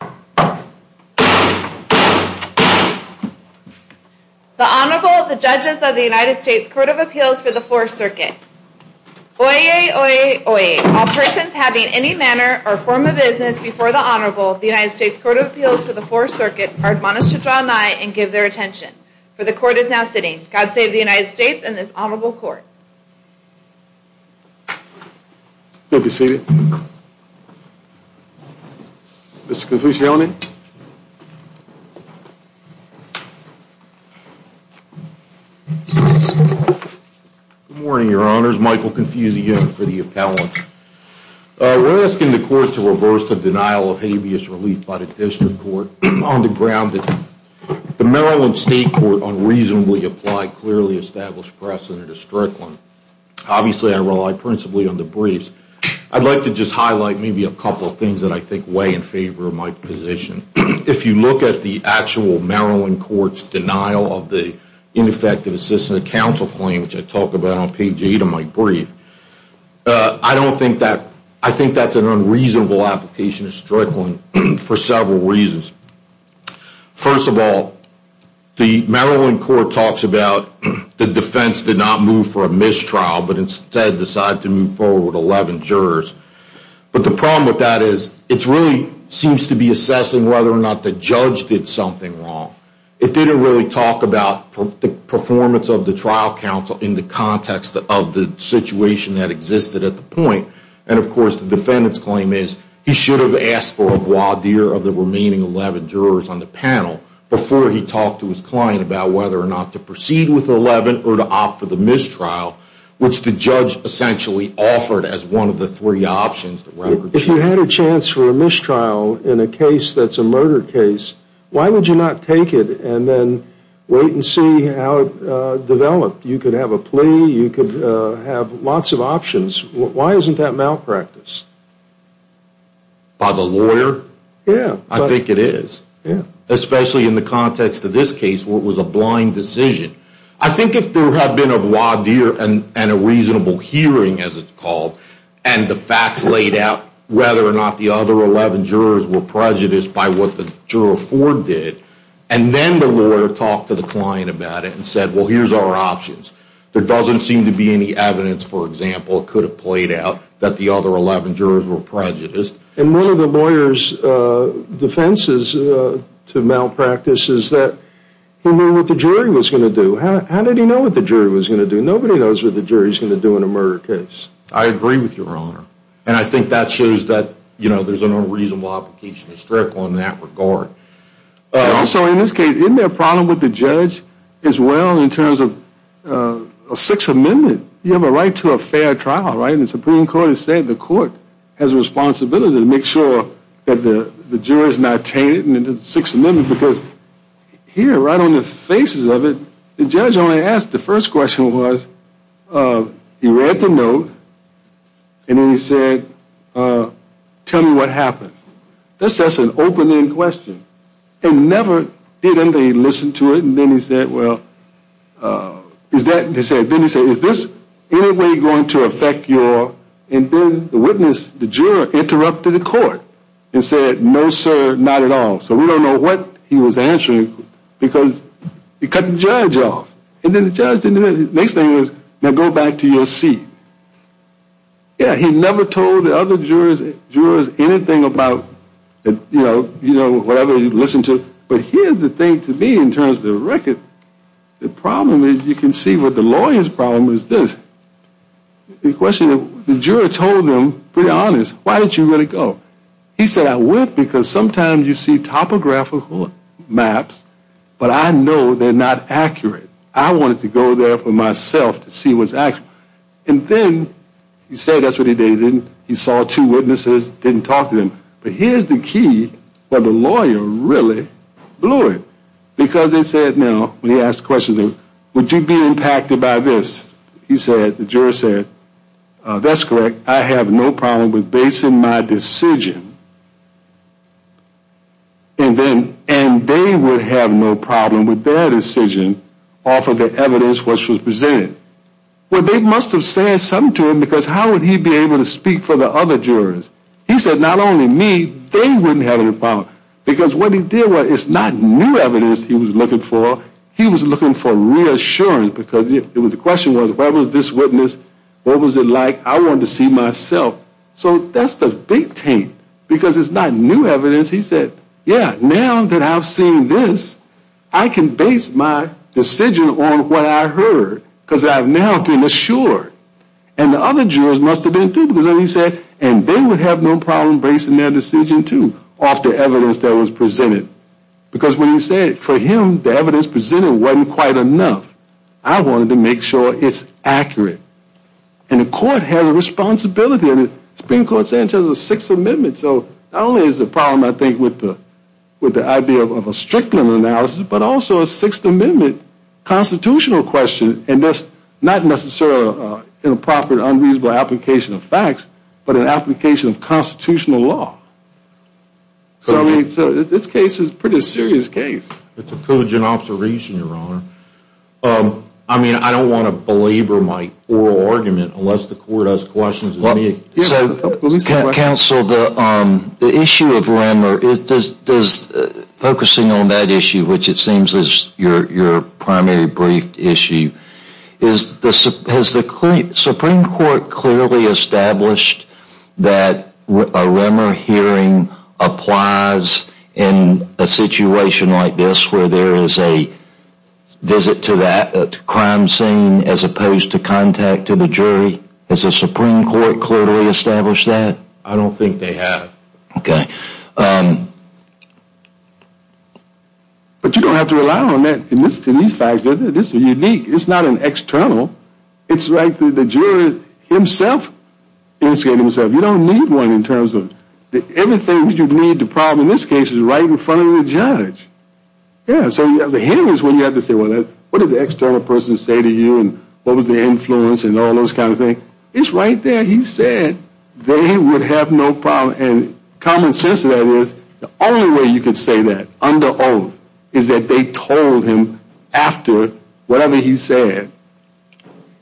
The Honorable, the Judges of the United States Court of Appeals for the Fourth Circuit. Oyez, oyez, oyez. All persons having any manner or form of business before the Honorable, the United States Court of Appeals for the Fourth Circuit, are admonished to draw nigh and give their attention. For the Court is now sitting. God save the United States and this Honorable Court. You may be seated. Mr. Confucione. Good morning, Your Honors. Michael Confucione for the appellant. We're asking the Court to reverse the denial of habeas relief by the District Court on the ground that the Maryland State Court unreasonably applied clearly established precedent to Strickland. Obviously, I rely principally on the briefs. I'd like to just highlight maybe a couple of things that I think weigh in favor of my position. If you look at the actual Maryland Court's denial of the ineffective assistance of counsel claim, which I talk about on page 8 of my brief, I don't think that, I think that's an unreasonable application of Strickland for several reasons. First of all, the Maryland Court talks about the defense did not move for a mistrial, but instead decided to move forward with 11 jurors. But the problem with that is it really seems to be assessing whether or not the judge did something wrong. It didn't really talk about the performance of the trial counsel in the context of the situation that existed at the point. And of course, the defendant's claim is he should have asked for a voir dire of the remaining 11 jurors on the panel before he talked to his client about whether or not to proceed with 11 or to opt for the mistrial, which the judge essentially offered as one of the three options. If you had a chance for a mistrial in a case that's a murder case, why would you not take it and then wait and see how it developed? You could have a plea. You could have lots of options. Why isn't that malpractice? By the lawyer? Yeah. I think it is. Yeah. Especially in the context of this case where it was a blind decision. I think if there had been a voir dire and a reasonable hearing, as it's called, and the facts laid out whether or not the other 11 jurors were prejudiced by what the juror for did, and then the lawyer talked to the client about it and said, well, here's our options, there doesn't seem to be any evidence, for example, could have played out that the other 11 jurors were prejudiced. And one of the lawyer's defenses to malpractice is that he knew what the jury was going to do. How did he know what the jury was going to do? Nobody knows what the jury is going to do in a murder case. I agree with your honor. And I think that shows that, you know, there's a reasonable application of the strip on that regard. So in this case, isn't there a problem with the judge as well in terms of a Sixth Amendment? You have a right to a fair trial, right? And the Supreme Court has said the court has a responsibility to make sure that the juror is not tainted in the Sixth Amendment. Because here, right on the faces of it, the judge only asked, the first question was, he read the note and then he said, tell me what happened. That's just an open-end question. And never did anybody listen to it. And then he said, well, is that, then he said, is this in any way going to affect your, and then the witness, the juror interrupted the court and said, no, sir, not at all. So we don't know what he was answering because he cut the judge off. And then the judge didn't do anything. The next thing is, now go back to your seat. Yeah, he never told the other jurors anything about, you know, whatever he listened to. But here's the thing to me in terms of the record. The problem is, you can see what the lawyer's problem is this. The question, the juror told him, pretty honest, why did you let it go? He said, I went because sometimes you see topographical maps, but I know they're not accurate. I wanted to go there for myself to see what's accurate. And then he said, that's what he did. He saw two witnesses, didn't talk to them. But here's the key where the lawyer really blew it. Because they said, now, when he asked questions, would you be impacted by this? He said, the juror said, that's correct. I have no problem with basing my decision. And then, and they would have no problem with their decision off of the evidence which was presented. Well, they must have said something to him because how would he be able to speak for the other jurors? He said, not only me, they wouldn't have any problem. Because what he did was, it's not new evidence he was looking for. He was looking for reassurance because the question was, what was this witness? What was it like? I wanted to see myself. So that's the big thing. Because it's not new evidence. He said, yeah, now that I've seen this, I can base my decision on what I heard. Because I've now been assured. And the other jurors must have been, too. Because then he said, and they would have no problem basing their decision, too, off the evidence that was presented. Because when he said, for him, the evidence presented wasn't quite enough. I wanted to make sure it's accurate. And the court has a responsibility. And the Supreme Court said it was a Sixth Amendment. So not only is the problem, I think, with the idea of a strict analysis, but also a Sixth Amendment constitutional question. And that's not necessarily an improper, unreasonable application of facts. But an application of constitutional law. So this case is a pretty serious case. It's a cogent observation, Your Honor. I mean, I don't want to belabor my oral argument unless the court has questions. Counsel, the issue of Remmer, focusing on that issue, which it seems is your primary briefed issue, has the Supreme Court clearly established that a Remmer hearing applies in a situation like this, where there is a visit to that crime scene as opposed to contact to the jury? Has the Supreme Court clearly established that? I don't think they have. But you don't have to rely on that. And listen to these facts. This is unique. It's not an external. It's like the juror himself. You don't need one in terms of everything that you need. The problem in this case is right in front of the judge. Yeah. So you have the hearings where you have to say, well, what did the external person say to you? And what was their influence? And all those kind of things. It's right there. He said they would have no problem. And common sense of that is the only way you could say that under oath is that they told him after whatever he said.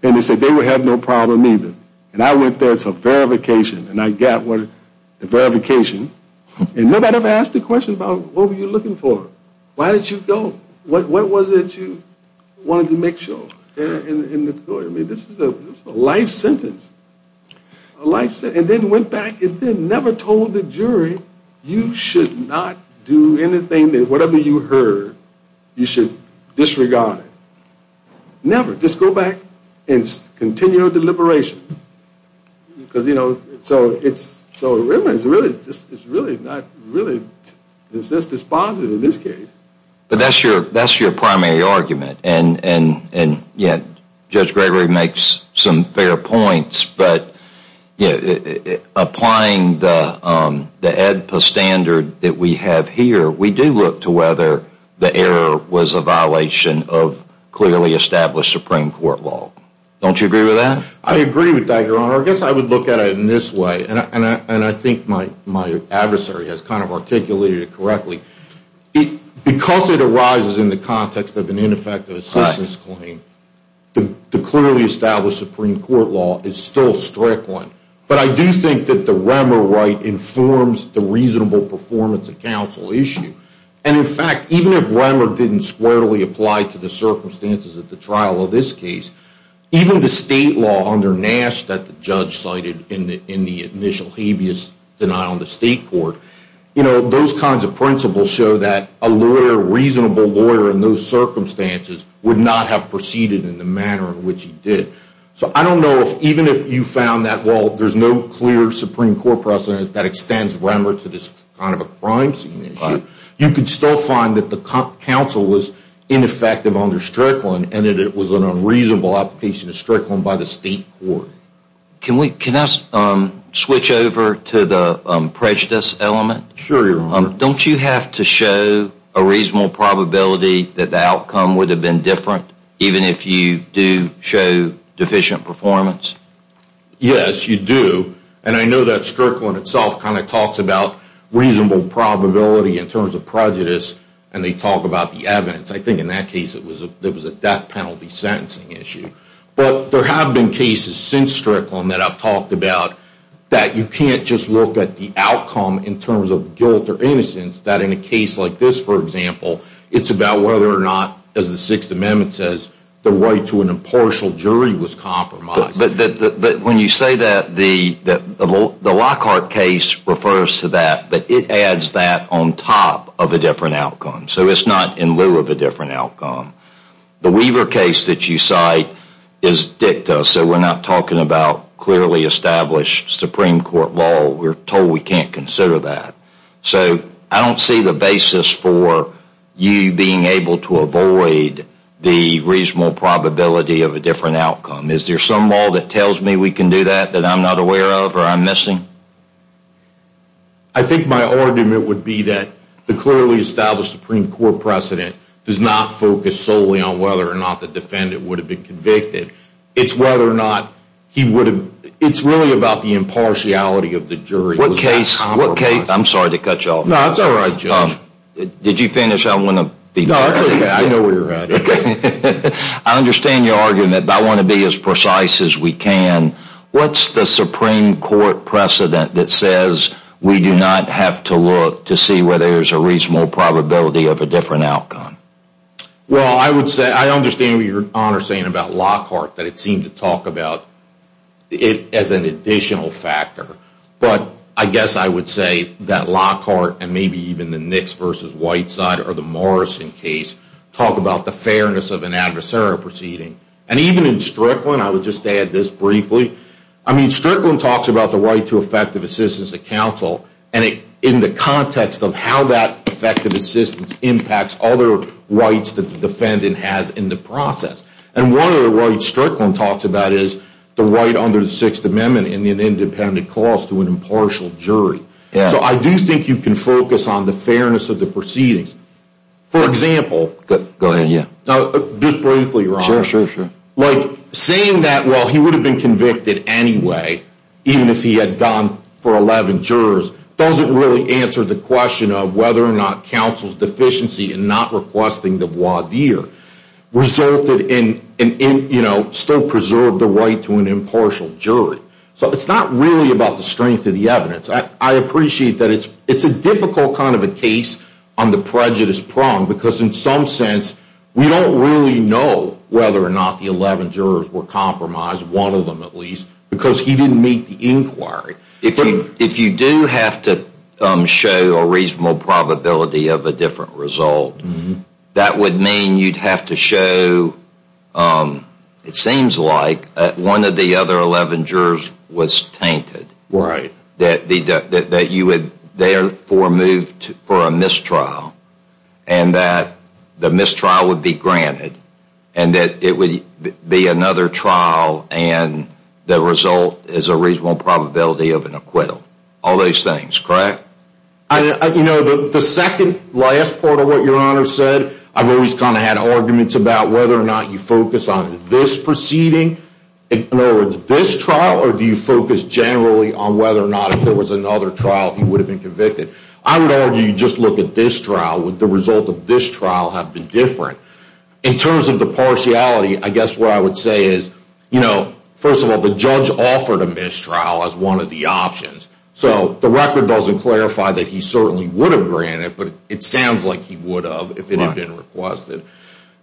And they said they would have no problem either. And I went there. It's a verification. And I got the verification. And nobody ever asked a question about what were you looking for? Why did you go? What was it you wanted to make sure? I mean, this is a life sentence. A life sentence. And then went back and then never told the jury you should not do anything that whatever you heard you should disregard. Never. Just go back and continue the deliberation. Because, you know, so it's really not really, it's just dispositive in this case. But that's your primary argument. And, yeah, Judge Gregory makes some fair points. But applying the ADPA standard that we have here, we do look to whether the error was a violation of clearly established Supreme Court law. Don't you agree with that? I agree with that, Your Honor. I guess I would look at it in this way. And I think my adversary has kind of articulated it correctly. Because it arises in the context of an ineffective assistance claim, the clearly established Supreme Court law is still a strict one. But I do think that the Remmer right informs the reasonable performance of counsel issue. And, in fact, even if Remmer didn't squarely apply to the circumstances of the trial of this case, even the state law under Nash that the judge cited in the initial habeas denial in the state court, you know, those kinds of principles show that a lawyer, a reasonable lawyer in those circumstances, would not have proceeded in the manner in which he did. So I don't know if even if you found that, well, there's no clear Supreme Court precedent that extends Remmer to this kind of a crime scene issue, you could still find that the counsel was ineffective under Strickland and that it was an unreasonable application of Strickland by the state court. Can I switch over to the prejudice element? Sure, Your Honor. Don't you have to show a reasonable probability that the outcome would have been different, even if you do show deficient performance? Yes, you do. And I know that Strickland itself kind of talks about reasonable probability in terms of prejudice, and they talk about the evidence. I think in that case it was a death penalty sentencing issue. But there have been cases since Strickland that I've talked about that you can't just look at the outcome in terms of guilt or innocence, that in a case like this, for example, it's about whether or not, as the Sixth Amendment says, the right to an impartial jury was compromised. But when you say that, the Lockhart case refers to that, but it adds that on top of a different outcome. So it's not in lieu of a different outcome. The Weaver case that you cite is dicta, so we're not talking about clearly established Supreme Court law. We're told we can't consider that. So I don't see the basis for you being able to avoid the reasonable probability of a different outcome. Is there some law that tells me we can do that that I'm not aware of or I'm missing? I think my argument would be that the clearly established Supreme Court precedent does not focus solely on whether or not the defendant would have been convicted. It's whether or not he would have, it's really about the impartiality of the jury. What case, I'm sorry to cut you off. No, it's all right, Judge. Did you finish? I want to be fair. No, that's okay. I know where you're at. I understand your argument, but I want to be as precise as we can. What's the Supreme Court precedent that says we do not have to look to see whether there's a reasonable probability of a different outcome? Well, I understand what your Honor is saying about Lockhart, that it seemed to talk about it as an additional factor. But I guess I would say that Lockhart and maybe even the Nix v. Whiteside or the Morrison case talk about the fairness of an adversarial proceeding. And even in Strickland, I would just add this briefly. I mean, Strickland talks about the right to effective assistance to counsel in the context of how that effective assistance impacts other rights that the defendant has in the process. And one of the rights Strickland talks about is the right under the Sixth Amendment in an independent clause to an impartial jury. So I do think you can focus on the fairness of the proceedings. For example, just briefly, Your Honor. Sure, sure, sure. Like, saying that, well, he would have been convicted anyway, even if he had gone for 11 jurors, doesn't really answer the question of whether or not counsel's deficiency in not requesting the voir dire resulted in, you know, still preserve the right to an impartial jury. So it's not really about the strength of the evidence. I appreciate that it's a difficult kind of a case on the prejudice prong, because in some sense we don't really know whether or not the 11 jurors were compromised, one of them at least, because he didn't make the inquiry. If you do have to show a reasonable probability of a different result, that would mean you'd have to show, it seems like, that one of the other 11 jurors was tainted. Right. That you would therefore move for a mistrial, and that the mistrial would be granted, and that it would be another trial, and the result is a reasonable probability of an acquittal. All those things, correct? You know, the second last part of what Your Honor said, I've always kind of had arguments about whether or not you focus on this proceeding, in other words, this trial, or do you focus generally on whether or not if there was another trial, he would have been convicted. I would argue you just look at this trial. Would the result of this trial have been different? In terms of the partiality, I guess what I would say is, you know, first of all, the judge offered a mistrial as one of the options, so the record doesn't clarify that he certainly would have granted, but it sounds like he would have if it had been requested.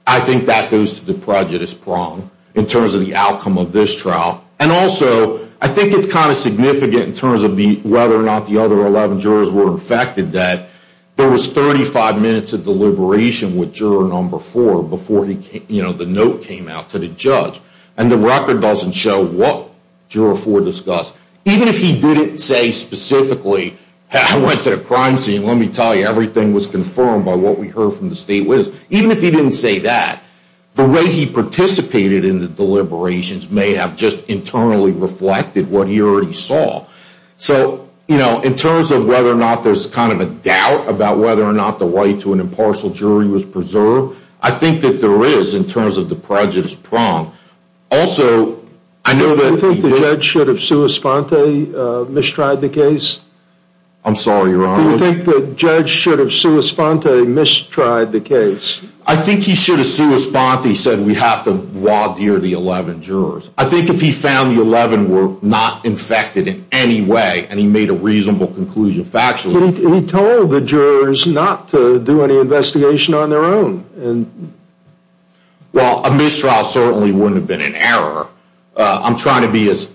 I think that goes to the prejudice prong in terms of the outcome of this trial, and also I think it's kind of significant in terms of whether or not the other 11 jurors were infected, that there was 35 minutes of deliberation with juror number four before the note came out to the judge, and the record doesn't show what juror four discussed. Even if he didn't say specifically, I went to the crime scene, let me tell you, everything was confirmed by what we heard from the state witness. Even if he didn't say that, the way he participated in the deliberations may have just internally reflected what he already saw. So, you know, in terms of whether or not there's kind of a doubt about whether or not the right to an impartial jury was preserved, I think that there is in terms of the prejudice prong. Also, I know that the judge should have sua sponte mistried the case. I'm sorry, Your Honor. Do you think the judge should have sua sponte mistried the case? I think he should have sua sponte said we have to wadeer the 11 jurors. I think if he found the 11 were not infected in any way and he made a reasonable conclusion factually. He told the jurors not to do any investigation on their own. Well, a mistrial certainly wouldn't have been an error. I'm trying to be as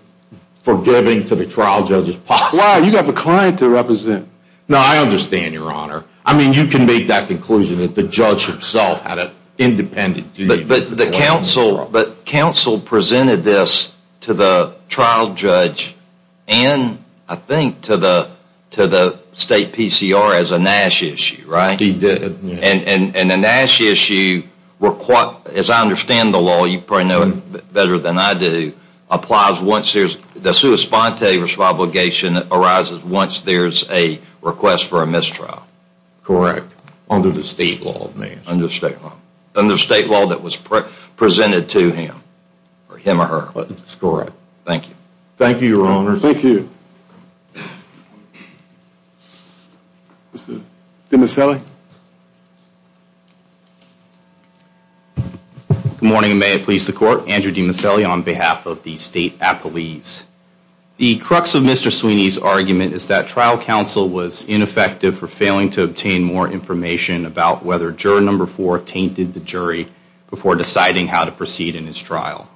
forgiving to the trial judge as possible. Why? You have a client to represent. No, I understand, Your Honor. I mean, you can make that conclusion that the judge himself had an independent. But the counsel presented this to the trial judge and I think to the state PCR as a Nash issue, right? He did. And the Nash issue, as I understand the law, you probably know it better than I do, applies once there's, the sua sponte obligation arises once there's a request for a mistrial. Correct. Under the state law. Under the state law that was presented to him or her. That's correct. Thank you. Thank you, Your Honor. Thank you. Demaselli. Good morning. May it please the court. Andrew Demaselli on behalf of the State Appellees. The crux of Mr. Sweeney's argument is that trial counsel was ineffective for failing to obtain more information about whether juror number four tainted the jury before deciding how to proceed in his trial.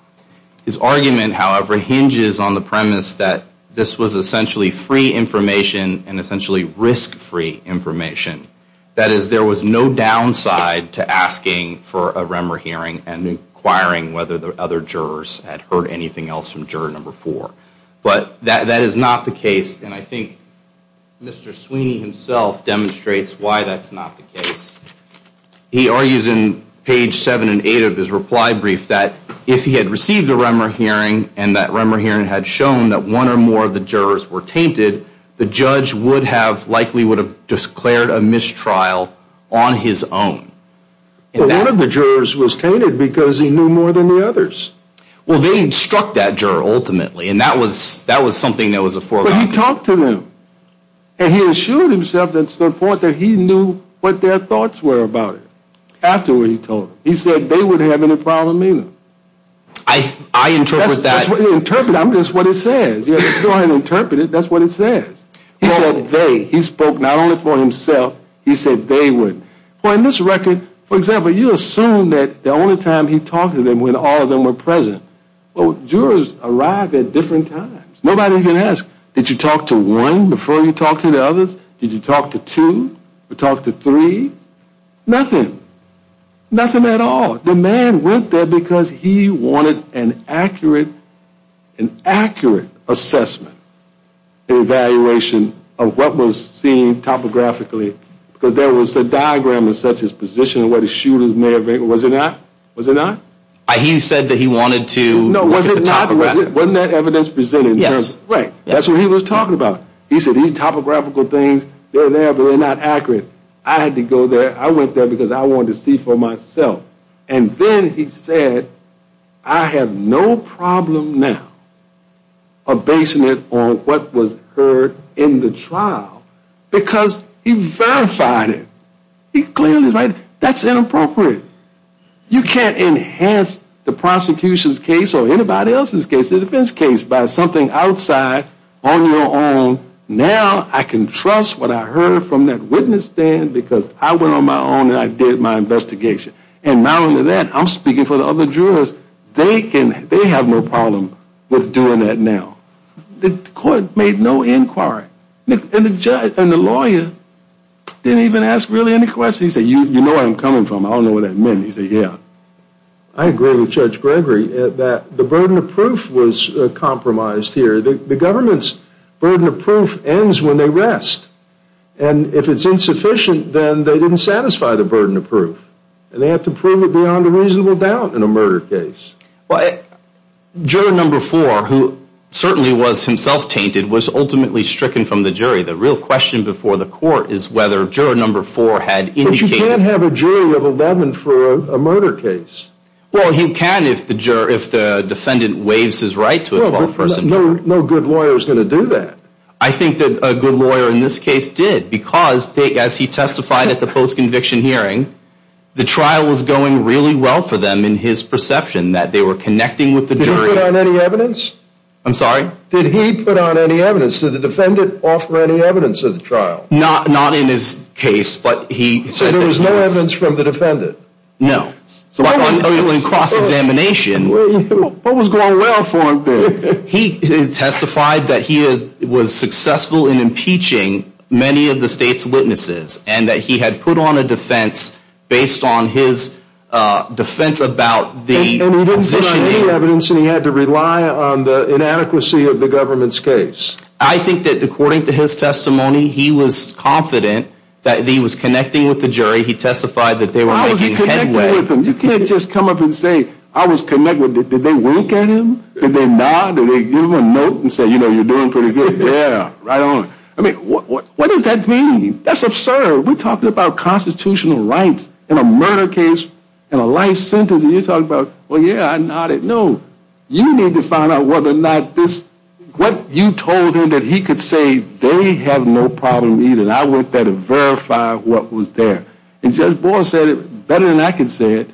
His argument, however, hinges on the premise that this was essentially free information and essentially risk free information. That is, there was no downside to asking for a Remmer hearing and inquiring whether the other jurors had heard anything else from juror number four. But that is not the case and I think Mr. Sweeney himself demonstrates why that's not the case. He argues in page seven and eight of his reply brief that if he had received a Remmer hearing and that Remmer hearing had shown that one or more of the jurors were tainted, the judge would have likely would have declared a mistrial on his own. One of the jurors was tainted because he knew more than the others. Well, they instruct that juror ultimately and that was something that was a foregone conclusion. But he talked to them. And he assured himself to the point that he knew what their thoughts were about it. After he told them. He said they wouldn't have any problem either. I interpret that. That's what he interpreted. That's what he said. He said they. He spoke not only for himself. He said they wouldn't. Well, in this record, for example, you assume that the only time he talked to them when all of them were present. Well, jurors arrive at different times. Nobody can ask, did you talk to one before you talked to the others? Did you talk to two or talk to three? Nothing. Nothing at all. The man went there because he wanted an accurate. An accurate assessment. Evaluation of what was seen topographically. Because there was a diagram of such as position, what a shooter may have. Was it not? Was it not? He said that he wanted to know. Was it not? Wasn't that evidence presented? Yes. Right. That's what he was talking about. He said he's topographical things. They're there, but they're not accurate. I had to go there. I went there because I wanted to see for myself. And then he said, I have no problem now basing it on what was heard in the trial. Because he verified it. He clearly, right, that's inappropriate. You can't enhance the prosecution's case or anybody else's case, the defense case, by something outside on your own. Now I can trust what I heard from that witness stand because I went on my own and I did my investigation. And not only that, I'm speaking for the other jurors. They have no problem with doing that now. The court made no inquiry. And the lawyer didn't even ask really any questions. He said, you know where I'm coming from. I don't know what that meant. He said, yeah. I agree with Judge Gregory that the burden of proof was compromised here. The government's burden of proof ends when they rest. And if it's insufficient, then they didn't satisfy the burden of proof. And they have to prove it beyond a reasonable doubt in a murder case. Juror number four, who certainly was himself tainted, was ultimately stricken from the jury. The real question before the court is whether juror number four had indicated. But you can't have a jury of 11 for a murder case. Well, you can if the defendant waives his right to a 12-person trial. No good lawyer is going to do that. I think that a good lawyer in this case did because as he testified at the post-conviction hearing, the trial was going really well for them in his perception that they were connecting with the jury. Did he put on any evidence? I'm sorry? Did he put on any evidence? Did the defendant offer any evidence at the trial? Not in his case, but he said there was no evidence. So there was no evidence from the defendant? No. So in cross-examination. What was going well for him then? He testified that he was successful in impeaching many of the state's witnesses and that he had put on a defense based on his defense about the positioning. And he didn't put on any evidence and he had to rely on the inadequacy of the government's case? I think that according to his testimony, he was confident that he was connecting with the jury. He testified that they were making headway. You can't just come up and say, I was connected. Did they wink at him? Did they nod? Did they give him a note and say, you know, you're doing pretty good? Yeah, right on. I mean, what does that mean? That's absurd. We're talking about constitutional rights in a murder case, in a life sentence, and you're talking about, well, yeah, I nodded. No. You need to find out whether or not this, what you told him that he could say, they have no problem either. And I went there to verify what was there. And Judge Boyle said it better than I could say it.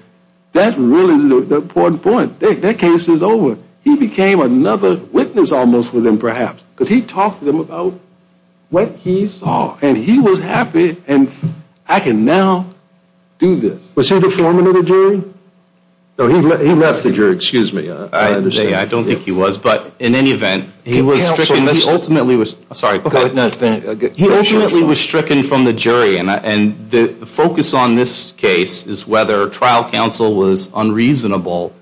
That really is the important point. Their case is over. He became another witness almost with them perhaps. Because he talked to them about what he saw. And he was happy. And I can now do this. Was he the foreman of the jury? No, he left the jury. Excuse me. I don't think he was. But in any event, he was stricken. Sorry. He ultimately was stricken from the jury. And the focus on this case is whether trial counsel was unreasonable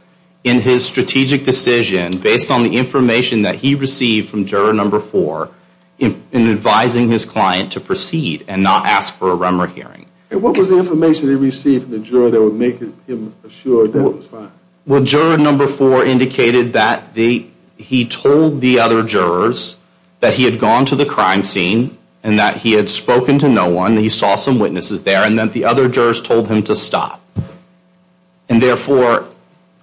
in his strategic decision based on the information that he received from juror number four in advising his client to proceed and not ask for a Remmer hearing. And what was the information he received from the juror that would make him assured that it was fine? Well, juror number four indicated that he told the other jurors that he had gone to the crime scene and that he had spoken to no one. He saw some witnesses there and that the other jurors told him to stop. And therefore,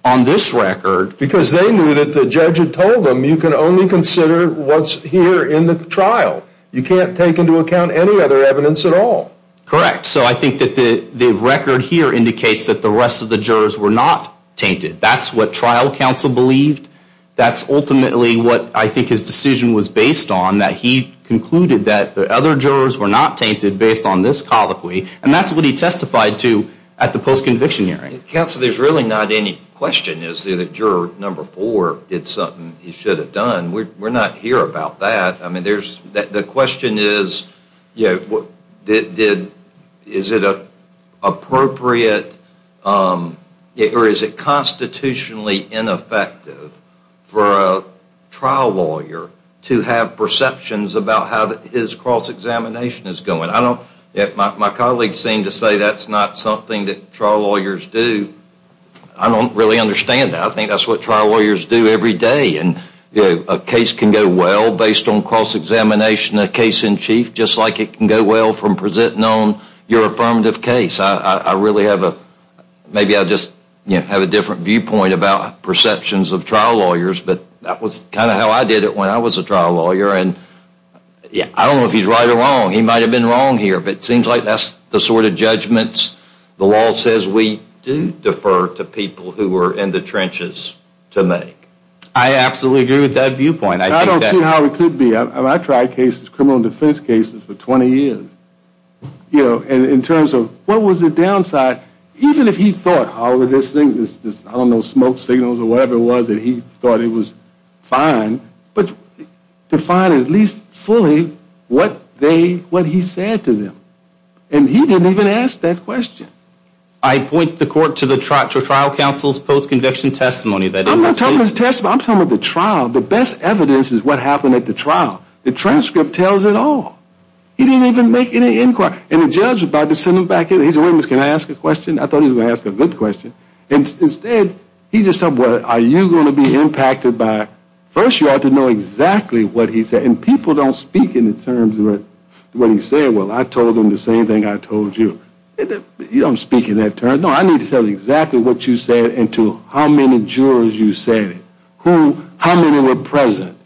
on this record. Because they knew that the judge had told them you can only consider what's here in the trial. You can't take into account any other evidence at all. Correct. So I think that the record here indicates that the rest of the jurors were not tainted. That's what trial counsel believed. That's ultimately what I think his decision was based on, that he concluded that the other jurors were not tainted based on this colloquy. And that's what he testified to at the post-conviction hearing. Counsel, there's really not any question, is there, that juror number four did something he should have done. We're not here about that. The question is, is it appropriate or is it constitutionally ineffective for a trial lawyer to have perceptions about how his cross-examination is going. My colleagues seem to say that's not something that trial lawyers do. I don't really understand that. I think that's what trial lawyers do every day. A case can go well based on cross-examination, a case in chief, just like it can go well from presenting on your affirmative case. I really have a different viewpoint about perceptions of trial lawyers, but that was kind of how I did it when I was a trial lawyer. I don't know if he's right or wrong. He might have been wrong here, but it seems like that's the sort of judgments the law says we do defer to people who are in the trenches to make. I absolutely agree with that viewpoint. I don't see how it could be. I tried cases, criminal defense cases, for 20 years. You know, in terms of what was the downside, even if he thought, Howard, this thing, I don't know, smoke signals or whatever it was that he thought it was fine, but define at least fully what he said to them. And he didn't even ask that question. I point the court to the trial counsel's post-conviction testimony. I'm not talking about his testimony. I'm talking about the trial. The best evidence is what happened at the trial. The transcript tells it all. He didn't even make any inquiries. And the judge was about to send him back in. He said, wait a minute, can I ask a question? I thought he was going to ask a good question. Instead, he just said, well, are you going to be impacted by it? First, you ought to know exactly what he said. And people don't speak in the terms of what he said. Well, I told him the same thing I told you. You don't speak in that term. He said, no, I need to tell you exactly what you said and to how many jurors you said it. How many were present?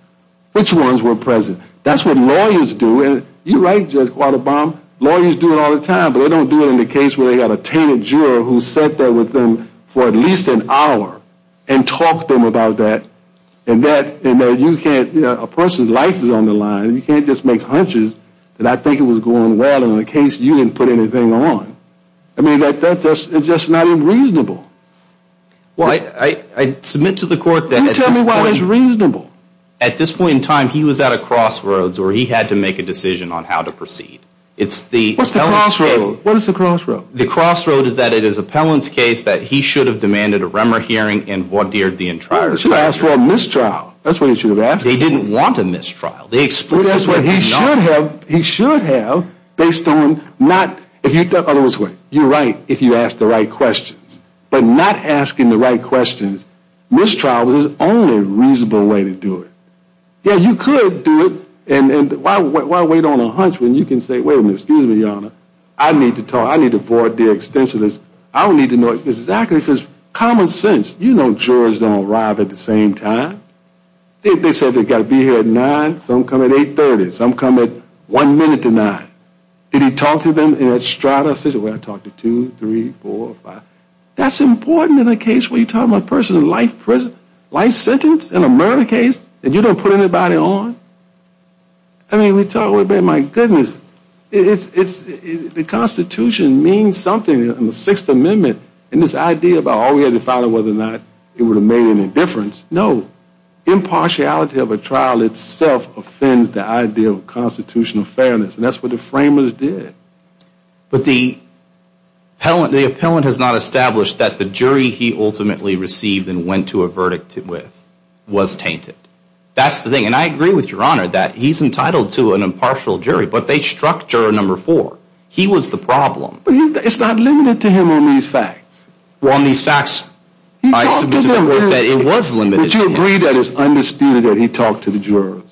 Which ones were present? That's what lawyers do. You're right, Judge Qualterbaum. Lawyers do it all the time. But they don't do it in the case where they have a tainted juror who sat there with them for at least an hour and talked to them about that. And that, you can't, a person's life is on the line. You can't just make hunches that I think it was going well in a case you didn't put anything on. I mean, that's just not even reasonable. Well, I submit to the court that at this point in time he was at a crossroads where he had to make a decision on how to proceed. What's the crossroad? The crossroad is that it is Appellant's case that he should have demanded a Remmer hearing and vaudeered the entire trial. He should have asked for a mistrial. That's what he should have asked for. He didn't want a mistrial. He should have, based on not, you're right if you ask the right questions. But not asking the right questions. Mistrial is the only reasonable way to do it. Yeah, you could do it. And why wait on a hunch when you can say, wait a minute, excuse me, Your Honor. I need to talk. I need to vaudeer extensions. I don't need to know exactly. Common sense. You know jurors don't arrive at the same time. They say they've got to be here at 9, something like that. Some come at 8.30. Some come at 1 minute to 9. Did he talk to them in a strata? I talked to 2, 3, 4, 5. That's important in a case where you're talking about a person in life sentence, in a murder case, and you don't put anybody on? I mean, we talk a little bit. My goodness. The Constitution means something in the Sixth Amendment in this idea about all we had to follow, whether or not it would have made any difference. No. Impartiality of a trial itself offends the idea of constitutional fairness, and that's what the framers did. But the appellant has not established that the jury he ultimately received and went to a verdict with was tainted. That's the thing, and I agree with Your Honor that he's entitled to an impartial jury, but they struck juror number four. He was the problem. But it's not limited to him on these facts. Would you agree that it's undisputed that he talked to the jurors?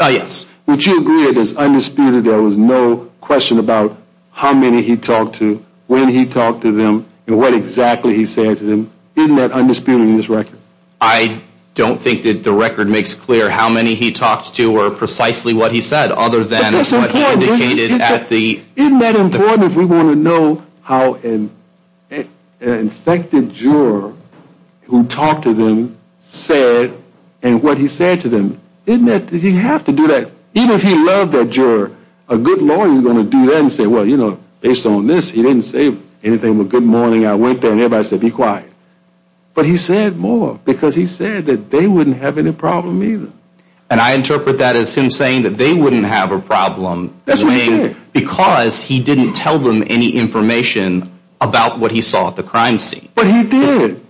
Yes. Would you agree that it's undisputed there was no question about how many he talked to, when he talked to them, and what exactly he said to them? Isn't that undisputed in this record? I don't think that the record makes clear how many he talked to or precisely what he said, other than what indicated at the court. Even if we want to know how an infected juror who talked to them said and what he said to them, isn't it that you have to do that? Even if he loved that juror, a good lawyer is going to do that and say, well, you know, based on this, he didn't say anything but good morning, I went there, and everybody said be quiet. But he said more because he said that they wouldn't have any problem either. And I interpret that as him saying that they wouldn't have a problem. That's what he said. Because he didn't tell them any information about what he saw at the crime scene. But he did.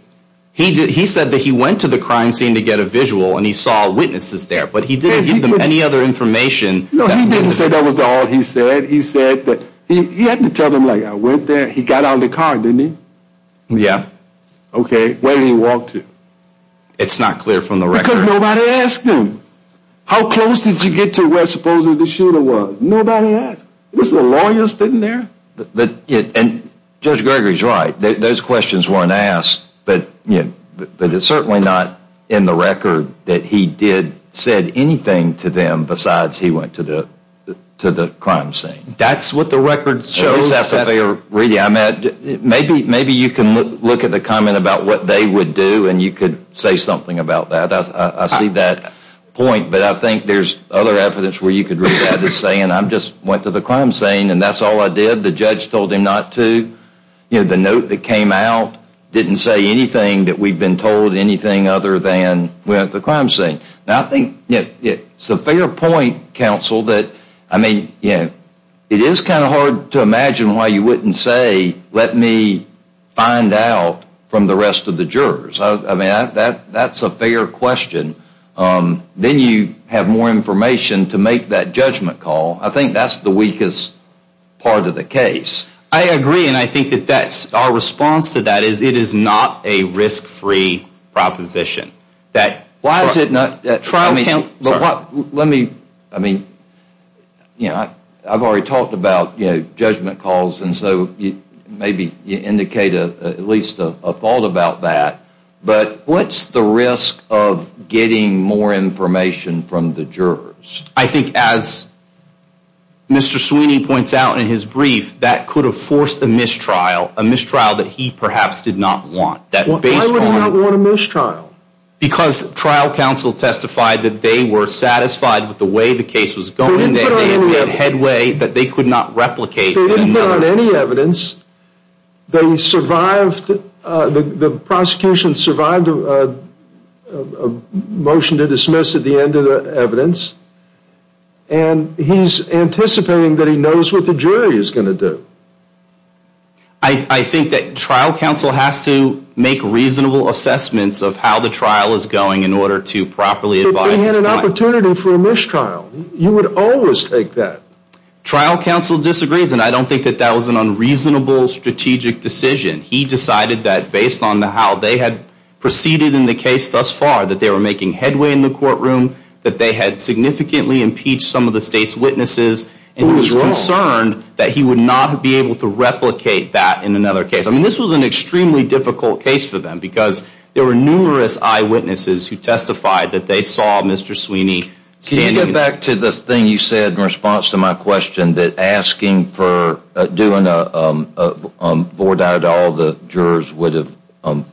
He said that he went to the crime scene to get a visual and he saw witnesses there, but he didn't give them any other information. No, he didn't say that was all he said. He said that he had to tell them, like, I went there, he got out of the car, didn't he? Yeah. Okay, where did he walk to? It's not clear from the record. Because nobody asked him. How close did you get to where supposedly the shooter was? Nobody asked. It was the lawyers sitting there. And Judge Gregory is right. Those questions weren't asked. But it's certainly not in the record that he did say anything to them besides he went to the crime scene. That's what the record shows. Maybe you can look at the comment about what they would do and you could say something about that. I see that point. But I think there's other evidence where you could read that as saying I just went to the crime scene and that's all I did. The judge told him not to. The note that came out didn't say anything that we've been told, anything other than we went to the crime scene. Now, I think it's a fair point, counsel, that, I mean, it is kind of hard to imagine why you wouldn't say, let me find out from the rest of the jurors. I mean, that's a fair question. Then you have more information to make that judgment call. I think that's the weakest part of the case. I agree, and I think that our response to that is it is not a risk-free proposition. Why is it not? Let me, I mean, I've already talked about judgment calls, and so maybe you indicate at least a fault about that. But what's the risk of getting more information from the jurors? I think as Mr. Sweeney points out in his brief, that could have forced a mistrial, a mistrial that he perhaps did not want. Why would he not want a mistrial? Because trial counsel testified that they were satisfied with the way the case was going, that they had made headway, that they could not replicate. They didn't put out any evidence. They survived, the prosecution survived a motion to dismiss at the end of the evidence, and he's anticipating that he knows what the jury is going to do. I think that trial counsel has to make reasonable assessments of how the trial is going in order to properly advise his client. But they had an opportunity for a mistrial. You would always take that. Trial counsel disagrees, and I don't think that that was an unreasonable strategic decision. He decided that based on how they had proceeded in the case thus far, that they were making headway in the courtroom, that they had significantly impeached some of the state's witnesses, and he was concerned that he would not be able to replicate that in another case. I mean, this was an extremely difficult case for them, because there were numerous eyewitnesses who testified that they saw Mr. Sweeney standing. Can you get back to this thing you said in response to my question, that asking for doing a voir dire to all the jurors would have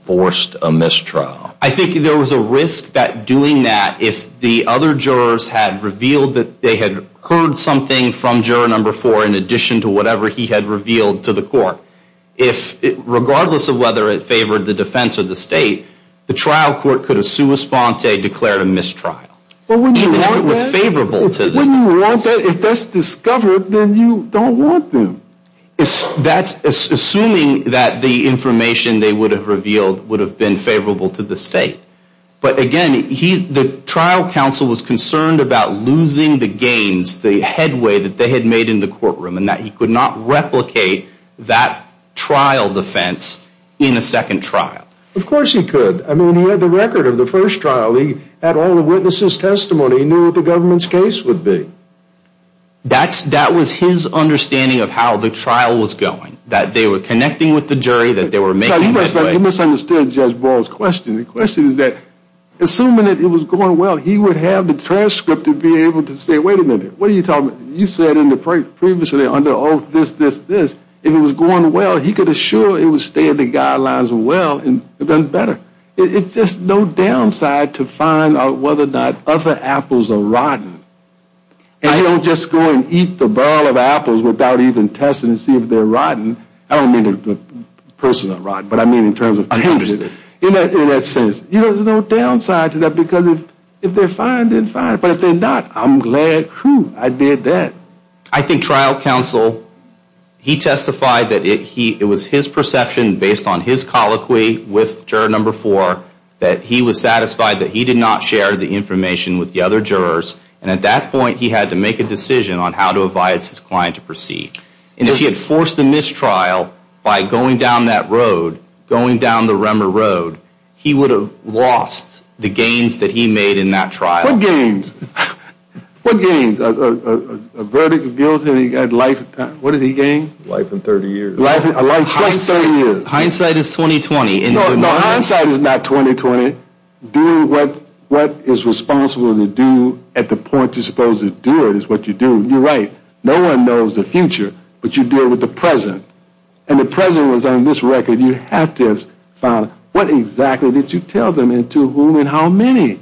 forced a mistrial? I think there was a risk that doing that, if the other jurors had revealed that they had heard something from juror number four in addition to whatever he had revealed to the court, regardless of whether it favored the defense or the state, the trial court could have sua sponte declared a mistrial. Even if it was favorable to them. If that's discovered, then you don't want them. Assuming that the information they would have revealed would have been favorable to the state. But again, the trial counsel was concerned about losing the gains, the headway that they had made in the courtroom, and that he could not replicate that trial defense in a second trial. Of course he could. I mean, he had the record of the first trial. He had all the witnesses' testimony. He knew what the government's case would be. That was his understanding of how the trial was going. That they were connecting with the jury, that they were making this way. You misunderstood Judge Ball's question. The question is that assuming that it was going well, he would have the transcript to be able to say, wait a minute. What are you talking about? You said previously under oath this, this, this. If it was going well, he could assure it would stay in the guidelines well and better. It's just no downside to find out whether or not other apples are rotten. And you don't just go and eat the barrel of apples without even testing to see if they're rotten. I don't mean the person is rotten, but I mean in terms of. I understand. In that sense, you know, there's no downside to that. Because if they're fine, then fine. But if they're not, I'm glad, whew, I did that. I think trial counsel, he testified that it was his perception based on his colloquy with juror number four that he was satisfied that he did not share the information with the other jurors and at that point he had to make a decision on how to advise his client to proceed. And if he had forced a mistrial by going down that road, going down the Remmer Road, he would have lost the gains that he made in that trial. What gains? What gains? A verdict of guilt? What did he gain? Life and 30 years. Life and 30 years. Hindsight is 20-20. No, hindsight is not 20-20. Do what is responsible to do at the point you're supposed to do it is what you do. You're right. No one knows the future, but you deal with the present. And the present was on this record. You have to have found what exactly did you tell them and to whom and how many.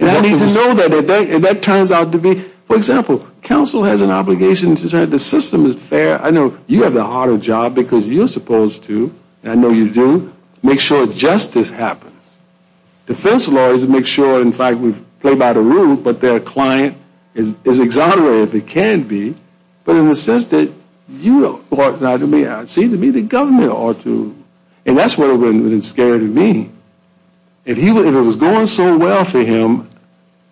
And I need to know that. If that turns out to be, for example, counsel has an obligation to say the system is fair. I know you have the harder job because you're supposed to, and I know you do, make sure justice happens. Defense lawyers make sure, in fact, we've played by the rule, but their client is exonerated if it can be. But in the sense that you ought not to be, it seems to me the government ought to. And that's what it would have scared me. If it was going so well for him,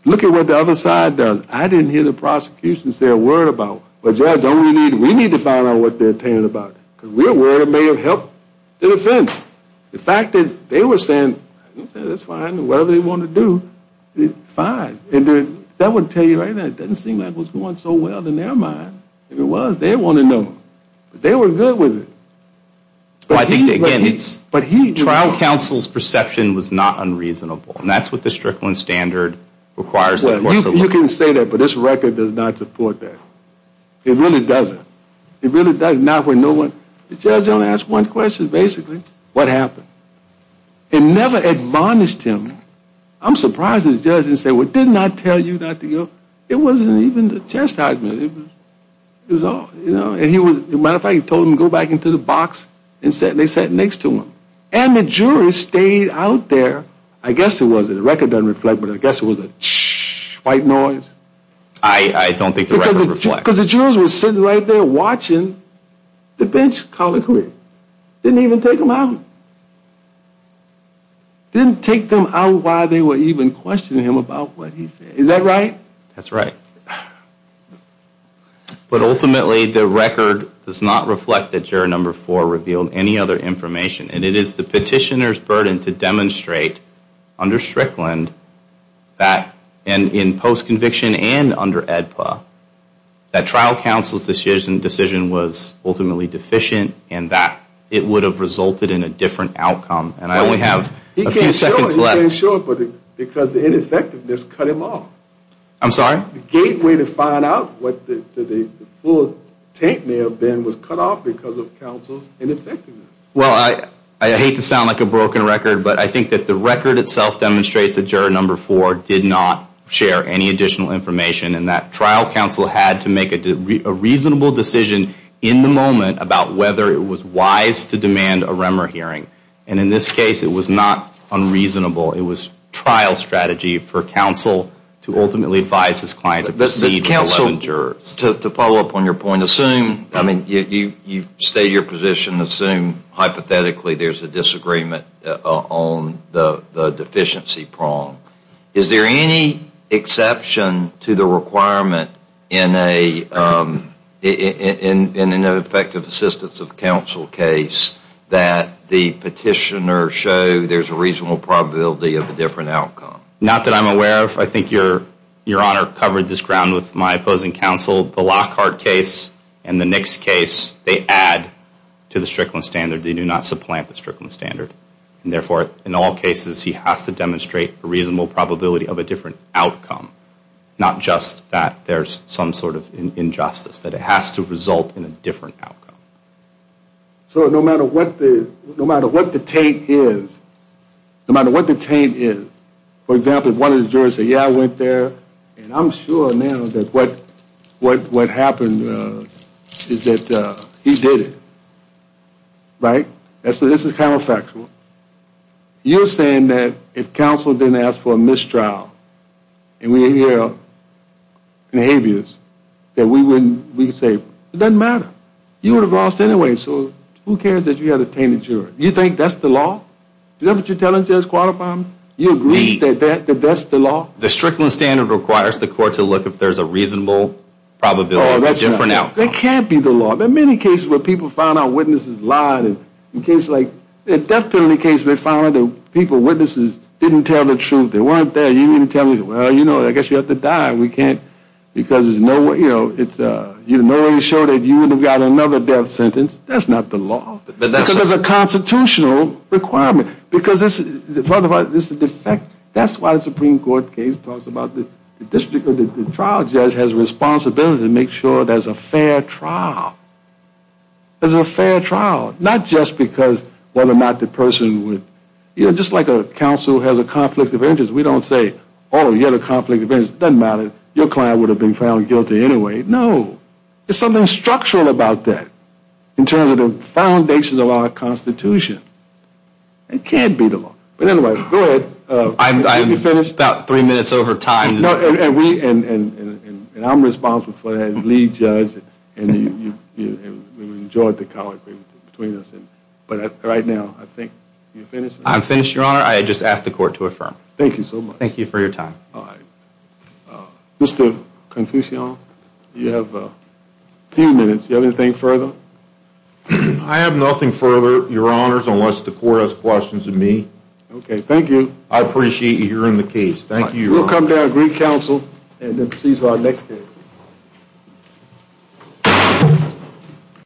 look at what the other side does. I didn't hear the prosecution say a word about it. But Judge, we need to find out what they're saying about it. Because we're aware it may have helped the defense. The fact that they were saying, that's fine, whatever they want to do, fine. That would tell you right now, it doesn't seem like it was going so well in their mind. If it was, they'd want to know. But they were good with it. I think, again, trial counsel's perception was not unreasonable. And that's what the Strickland standard requires. You can say that, but this record does not support that. It really doesn't. The judge only asked one question, basically. What happened? It never admonished him. I'm surprised the judge didn't say, well, didn't I tell you not to go? It wasn't even the test document. As a matter of fact, he told them to go back into the box and they sat next to him. And the jury stayed out there. I guess it was, the record doesn't reflect, but I guess it was a white noise. I don't think the record reflects. Because the jurors were sitting right there watching the bench colloquy. Didn't even take them out. Didn't take them out while they were even questioning him about what he said. Is that right? That's right. But ultimately, the record does not reflect that juror number four revealed any other information. And it is the petitioner's burden to demonstrate under Strickland, and in post-conviction and under AEDPA, that trial counsel's decision was ultimately deficient and that it would have resulted in a different outcome. And I only have a few seconds left. He can't show it because the ineffectiveness cut him off. I'm sorry? The gateway to find out what the full taint may have been was cut off because of counsel's ineffectiveness. Well, I hate to sound like a broken record, but I think that the record itself demonstrates that juror number four did not share any additional information and that trial counsel had to make a reasonable decision in the moment about whether it was wise to demand a REMER hearing. And in this case, it was not unreasonable. It was trial strategy for counsel to ultimately advise his client to proceed with 11 jurors. To follow up on your point, assume, I mean, you state your position, assume hypothetically there's a disagreement on the deficiency prong. Is there any exception to the requirement in an effective assistance of counsel case that the petitioner show there's a reasonable probability of a different outcome? Not that I'm aware of. I think Your Honor covered this ground with my opposing counsel. The Lockhart case and the Nix case, they add to the Strickland standard. They do not supplant the Strickland standard. And therefore, in all cases, he has to demonstrate a reasonable probability of a different outcome. Not just that there's some sort of injustice. That it has to result in a different outcome. So no matter what the taint is, no matter what the taint is, for example, if one of the jurors say, yeah, I went there, and I'm sure now that what happened is that he did it. Right? So this is counterfactual. You're saying that if counsel didn't ask for a mistrial, and we hear behaviors, that we would say, it doesn't matter. You would have lost anyway. So who cares that you had a tainted juror? You think that's the law? Is that what you're telling Judge Qualiphant? You agree that that's the law? The Strickland standard requires the court to look if there's a reasonable probability of a different outcome. It can't be the law. There are many cases where people found out witnesses lied. In a death penalty case, they found out that people, witnesses, didn't tell the truth. They weren't there. You didn't tell them, well, you know, I guess you have to die. We can't, because there's no way to show that you would have got another death sentence. That's not the law. Because there's a constitutional requirement. Because this is a defect. That's why the Supreme Court case talks about the district of the trial judge has a responsibility to make sure there's a fair trial. There's a fair trial. Not just because whether or not the person would, you know, just like a counsel has a conflict of interest. We don't say, oh, you have a conflict of interest. It doesn't matter. Your client would have been found guilty anyway. No. There's something structural about that in terms of the foundations of our Constitution. It can't be the law. But anyway, go ahead. I'm about three minutes over time. And we, and I'm responsible for that as lead judge. And we enjoyed the colloquy between us. But right now, I think you're finished? I'm finished, Your Honor. I just asked the Court to affirm. Thank you so much. Thank you for your time. All right. Mr. Confucian, you have a few minutes. Do you have anything further? I have nothing further. Thank you, Your Honors, unless the Court has questions of me. Okay. Thank you. I appreciate you hearing the case. Thank you, Your Honor. We'll come down and greet counsel and then proceed to our next case.